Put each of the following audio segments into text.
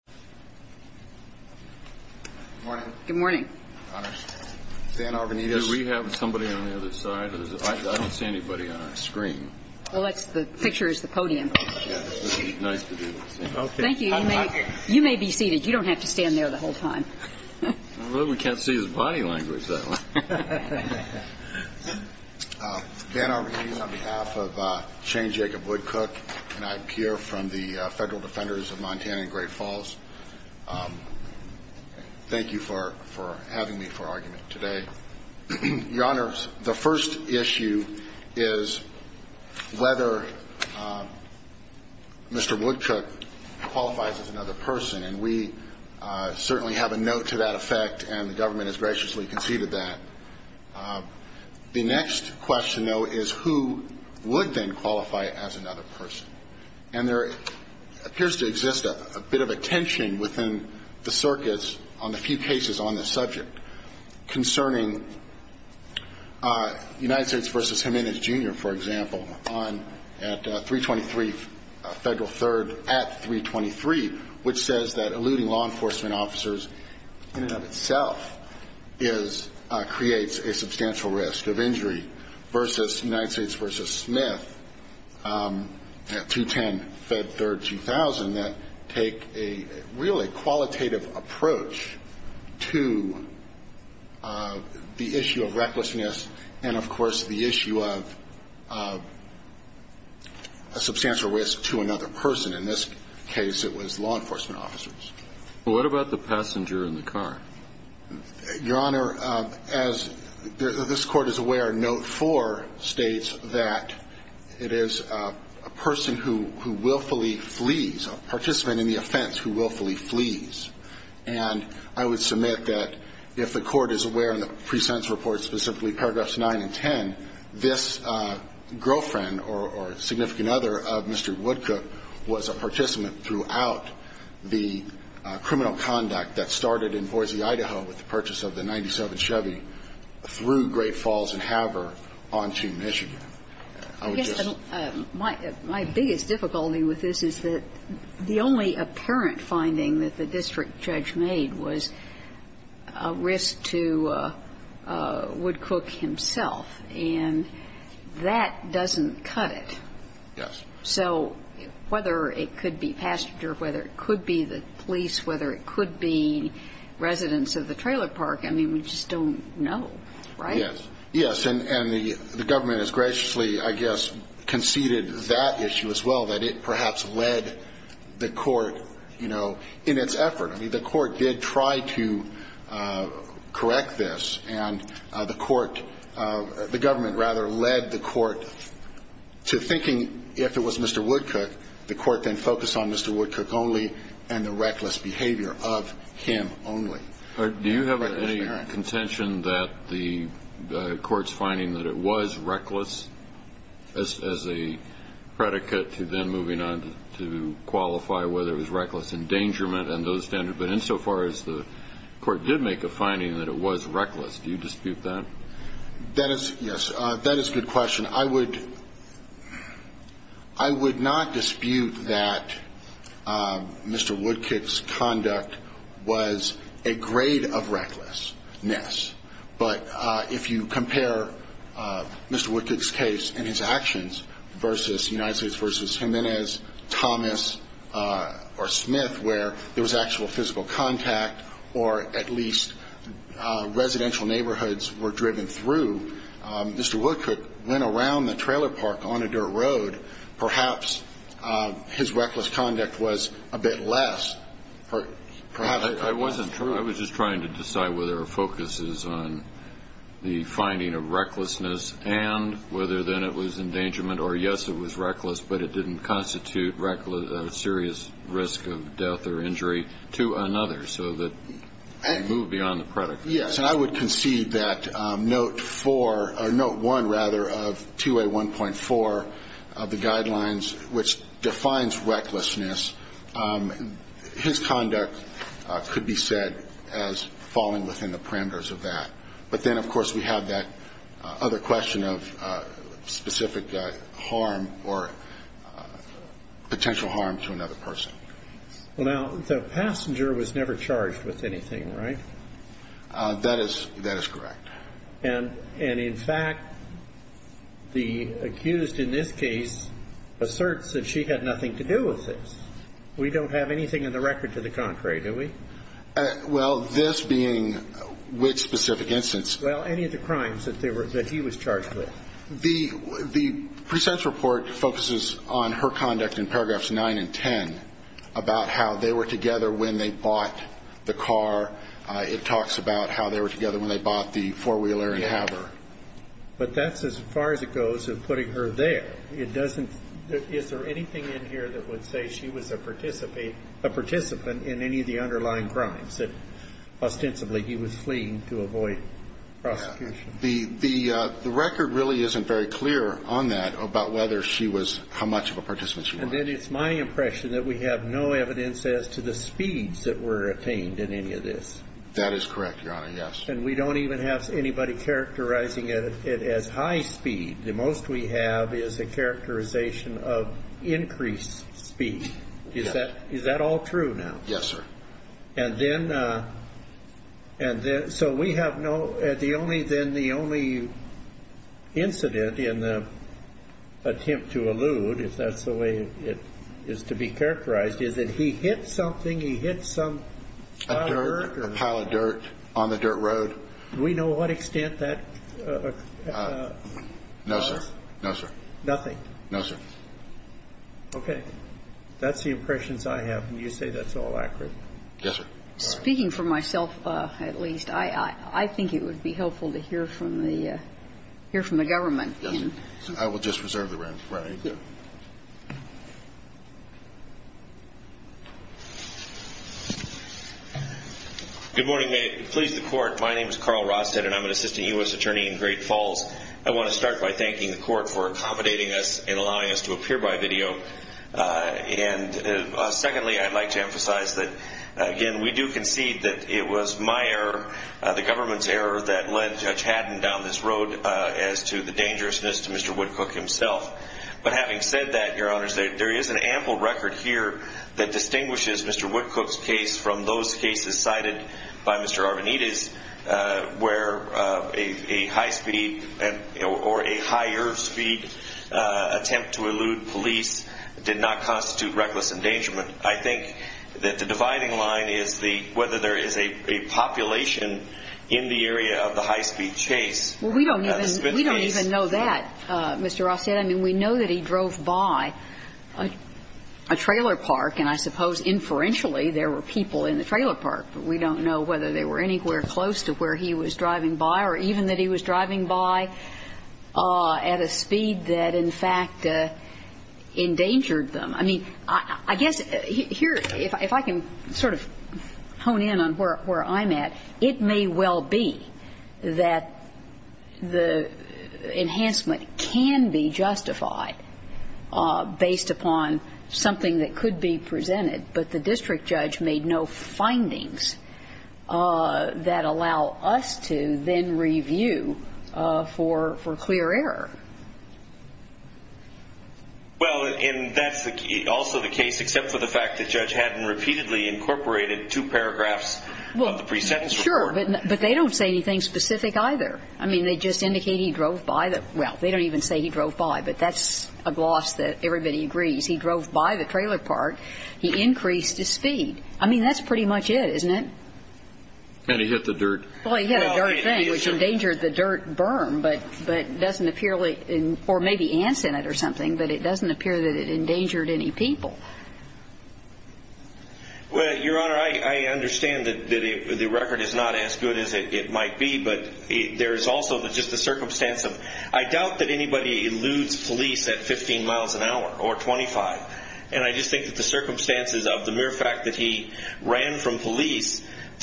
on behalf of Shane Jacob Woodcook and I'm here from the Federal Defenders of Montana and Great Falls. Thank you for having me for argument today. Your Honor, the first issue is whether Mr. Woodcook qualifies as another person and we certainly have a note to that effect and the government has graciously conceded that. The next question though is who would then qualify as another person? And there appears to exist a bit of a tension within the circuits on the few cases on this subject concerning United States v. Jimenez, Jr. for example on at 323 Federal 3rd at 323 which says that eluding law enforcement officers in and of itself creates a substantial risk of injury v. United States v. Smith at 210 Federal 3rd, 2000 that take a really qualitative approach to the issue of recklessness and of course the issue of a substantial risk to another person. In this case it was law enforcement officers. What about the passenger in the car? Your Honor, as this Court is aware, note 4 states that it is a person who willfully flees, a participant in the offense who willfully flees. And I would submit that if the Court is aware in the pre-sentence report specifically paragraphs 9 and 10, this girlfriend or significant other of Mr. Woodcook was a participant throughout the criminal conduct that started in Boise, Idaho with the purchase of the 97 Chevy through Great Falls and Haver on to Michigan. I guess my biggest difficulty with this is that the only apparent finding that the district judge made was a risk to Woodcook himself. And that doesn't cut it. Yes. So whether it could be passenger, whether it could be the police, whether it could be residents of the trailer park, I mean, we just don't know, right? Yes. Yes. And the government has graciously, I guess, conceded that issue as well, that it perhaps led the Court, you know, in its effort. I mean, the Court did try to make a finding that it was Mr. Woodcook. The Court then focused on Mr. Woodcook only and the reckless behavior of him only. Do you have any contention that the Court's finding that it was reckless as a predicate to then moving on to qualify whether it was reckless endangerment and those standards? But insofar as the Court did make a finding that it was reckless, do you dispute that? That is, yes, that is a good question. I would not dispute that Mr. Woodcook's conduct was a grade of recklessness. But if you compare Mr. Woodcook's case and his actions versus United States versus Jimenez, Thomas or Smith, where there was actual physical contact or at least residential neighborhoods were driven through, Mr. Woodcook went around the trailer park on a dirt road. Perhaps his reckless conduct was a bit less. I wasn't trying. I was just trying to decide whether our focus is on the finding of recklessness and whether then it was endangerment or, yes, it was reckless, but it didn't constitute a serious risk of death or injury to another. So that you move beyond the predicate. Yes. And I would concede that note four or note one, rather, of 2A1.4 of the guidelines, which defines recklessness, his conduct could be said as falling within the parameters of that. But then, of course, we have that other question of specific harm or potential harm to another person. Well, now, the passenger was never charged with anything, right? That is correct. And in fact, the accused in this case asserts that she had nothing to do with this. We don't have anything in the record to the contrary, do we? Well, this being which specific instance? Well, any of the crimes that he was charged with. The pre-sentence report focuses on her conduct in paragraphs nine and ten about how they were together when they bought the car. It talks about how they were together when they bought the four-wheeler and have her. But that's as far as it goes of putting her there. It doesn't – is there anything in here that would say she was a participant in any of the underlying crimes that, ostensibly, he was fleeing to avoid prosecution? The record really isn't very clear on that about whether she was – how much of a participant she was. And then it's my impression that we have no evidence as to the speeds that were attained in any of this. That is correct, Your Honor, yes. And we don't even have anybody characterizing it as high speed. The most we have is a characterization of increased speed. Is that all true now? Yes, sir. And then – and then – so we have no – the only – then the only incident in the attempt to allude, if that's the way it is to be characterized, is that he hit something. He hit some pile of dirt or something. A pile of dirt on the dirt road. Do we know what extent that occurred? No, sir. No, sir. Nothing? No, sir. Okay. That's the impressions I have, and you say that's all accurate? Yes, sir. Speaking for myself, at least, I think it would be helpful to hear from the – hear from the government. Yes, sir. I will just reserve the room for anything. Thank you. Good morning, ma'am. Please, the Court. My name is Carl Rosted, and I'm an assistant U.S. attorney in Great Falls. I want to start by thanking the Court for accommodating us and allowing us to appear by video. And secondly, I'd like to emphasize that, again, we do concede that it was my error, the government's error, that led Judge Haddon down this road as to the dangerousness to Mr. Woodcook himself. But having said that, Your Honors, there is an ample record here that distinguishes Mr. Woodcook's case from those cases cited by Mr. Arvanites where a high-speed or a higher-speed attempt to elude police did not constitute reckless endangerment. I think that the dividing line is the – whether there is a population in the area of the high-speed chase. Well, we don't even know that, Mr. Rosted. I mean, we know that he drove by a trailer park, and I suppose inferentially there were people in the trailer park. We don't know whether they were anywhere close to where he was driving by or even that he was driving by at a speed that, in fact, endangered them. I mean, I guess here, if I can sort of hone in on where I'm at, it may well be that the enhancement can be justified based upon something that could be presented, but the district judge made no findings that allow us to then review for clear error. Well, and that's also the case except for the fact that Judge Haddon repeatedly incorporated two paragraphs of the pre-sentence report. Well, sure, but they don't say anything specific either. I mean, they just indicate he drove by the – well, they don't even say he drove by, but that's a gloss that I mean, that's pretty much it, isn't it? And he hit the dirt. Well, he hit a dirt thing, which endangered the dirt burn, but doesn't appearly – or maybe ants in it or something, but it doesn't appear that it endangered any people. Well, Your Honor, I understand that the record is not as good as it might be, but there is also just the circumstance of – I doubt that anybody eludes police at 15 miles an hour. Well,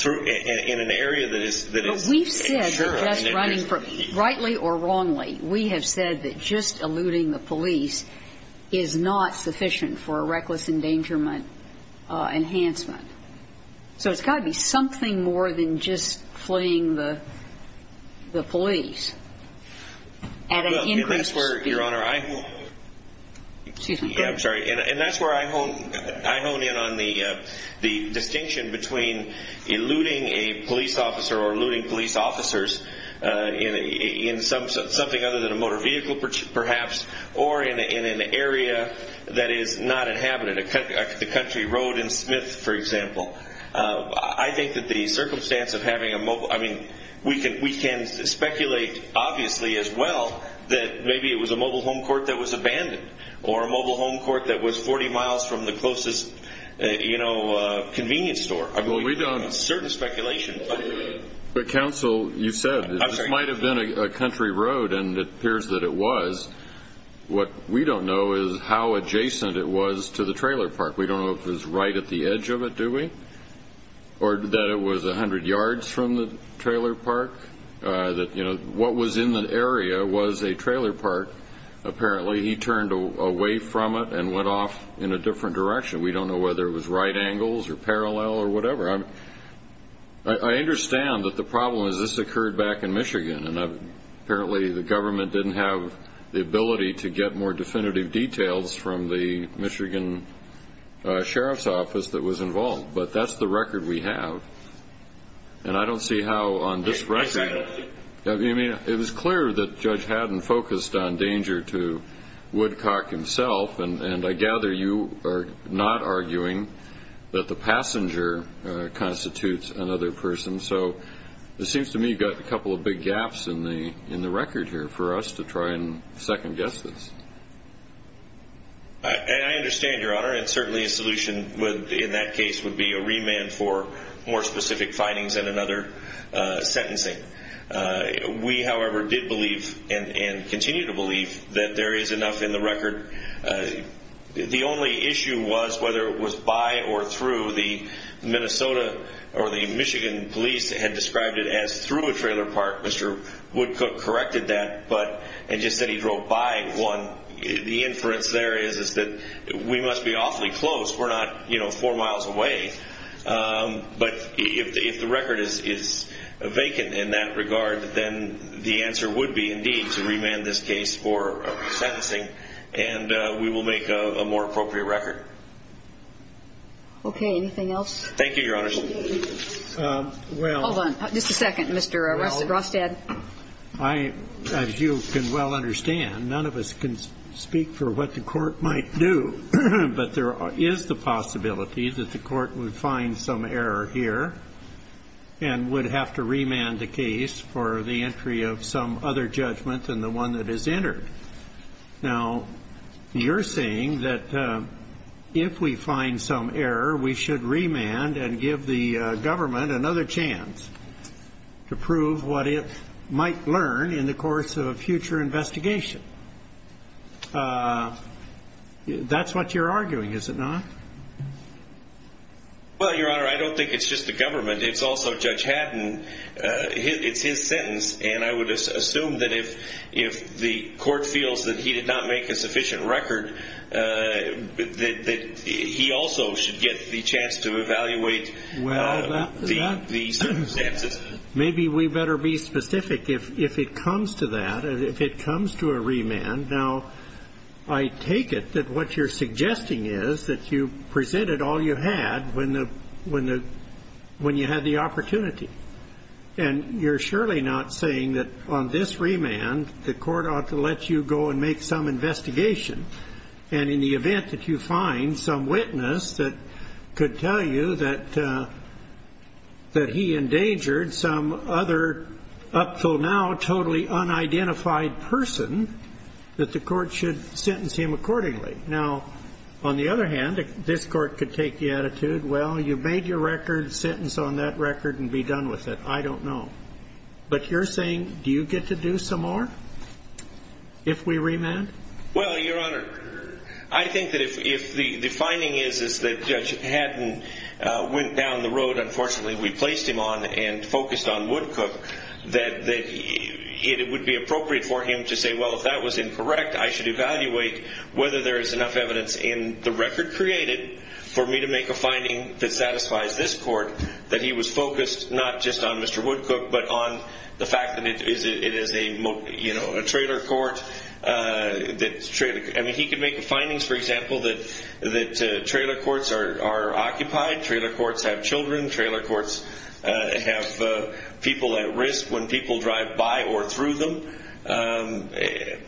we've said that just running – rightly or wrongly, we have said that just eluding the police is not sufficient for a reckless endangerment enhancement. So it's got to be something more than just fleeing the police at an increased speed. Well, and that's where, Your Honor, I – Excuse me. The distinction between eluding a police officer or eluding police officers in something other than a motor vehicle, perhaps, or in an area that is not inhabited, like the country road in Smith, for example, I think that the circumstance of having a – I mean, we can speculate, obviously, as well, that maybe it was a mobile home court that was abandoned or a mobile convenience store. Well, we don't – I mean, we can make certain speculation, but – But, counsel, you said – I'm sorry. This might have been a country road, and it appears that it was. What we don't know is how adjacent it was to the trailer park. We don't know if it was right at the edge of it, do we? Or that it was 100 yards from the trailer park? What was in the area was a trailer park. Apparently, he turned away from it and went off in a different direction. We don't know whether it was right angles or parallel or whatever. I understand that the problem is this occurred back in Michigan, and apparently the government didn't have the ability to get more definitive details from the Michigan Sheriff's Office that was involved, but that's the record we have. And I don't see how on this record – I said – I mean, it was clear that Judge Haddon focused on danger to Woodcock himself, and I gather you are not arguing that the passenger constitutes another person. So it seems to me you've got a couple of big gaps in the record here for us to try and second-guess this. I understand, Your Honor, and certainly a solution in that case would be a remand for more specific findings and another sentencing. We, however, did believe and continue to believe that there is enough in the record. The only issue was whether it was by or through. The Minnesota or the Michigan police had described it as through a trailer park. Mr. Woodcock corrected that and just said he drove by one. The inference there is that we must be awfully close. We're not four miles away. But if the record is vacant in that regard, then the answer would be, indeed, to remand this case for sentencing, and we will make a more appropriate record. Okay. Anything else? Thank you, Your Honor. Well – Hold on. Just a second, Mr. Rostad. Well, I – as you can well understand, none of us can speak for what the Court might do, but there is the possibility that the Court would find some error here and would have to remand the case for the entry of some other judgment than the one that is entered. Now, you're saying that if we find some error, we should remand and give the government another chance to prove what it might learn in the course of a future investigation. That's what you're arguing, is it not? Well, Your Honor, I don't think it's just the government. It's also Judge Haddon. It's his sentence, and I would assume that if the Court feels that he did not make a sufficient record, that he also should get the chance to evaluate the circumstances. Well, maybe we better be specific if it comes to that, if it comes to a remand. Now, I take it that what you're suggesting is that you presented all you had when you had the opportunity, and you're surely not saying that on this remand the Court ought to let you go and make some investigation. And in the event that you find some witness that could tell you that he endangered some other up till now totally unidentified person, that the Court should sentence him accordingly. Now, on the other hand, this Court could take the attitude, well, you made your record, sentence on that record and be done with it. I don't know. But you're saying, do you get to do some more if we remand? Well, Your Honor, I think that if the finding is that Judge Haddon went down the road, that unfortunately we placed him on and focused on Woodcook, that it would be appropriate for him to say, well, if that was incorrect, I should evaluate whether there is enough evidence in the record created for me to make a finding that satisfies this Court, that he was focused not just on Mr. Woodcook, but on the fact that it is a trailer court. I mean, he could make the findings, for example, that trailer courts are occupied, trailer courts have people at risk when people drive by or through them. That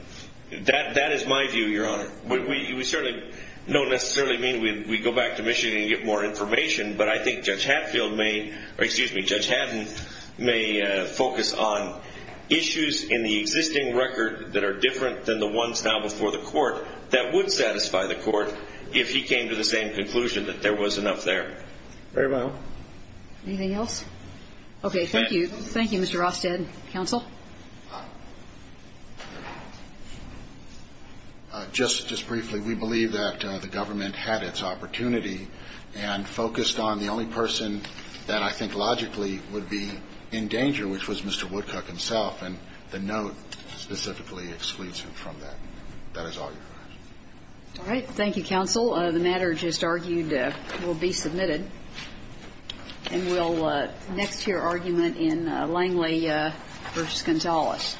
is my view, Your Honor. We certainly don't necessarily mean we go back to Michigan and get more information, but I think Judge Haddon may focus on issues in the existing record that are different than the ones now before the Court that would satisfy the Court if he came to the same conclusion that there was enough there. Very well. Anything else? Okay. Thank you. Thank you, Mr. Rosted. Counsel. Just briefly, we believe that the government had its opportunity and focused on the only person that I think logically would be in danger, which was Mr. Woodcook himself, and the note specifically excludes him from that. That is all, Your Honor. All right. Thank you, counsel. The matter just argued will be submitted. And we'll next hear argument in Langley v. Gonzalez.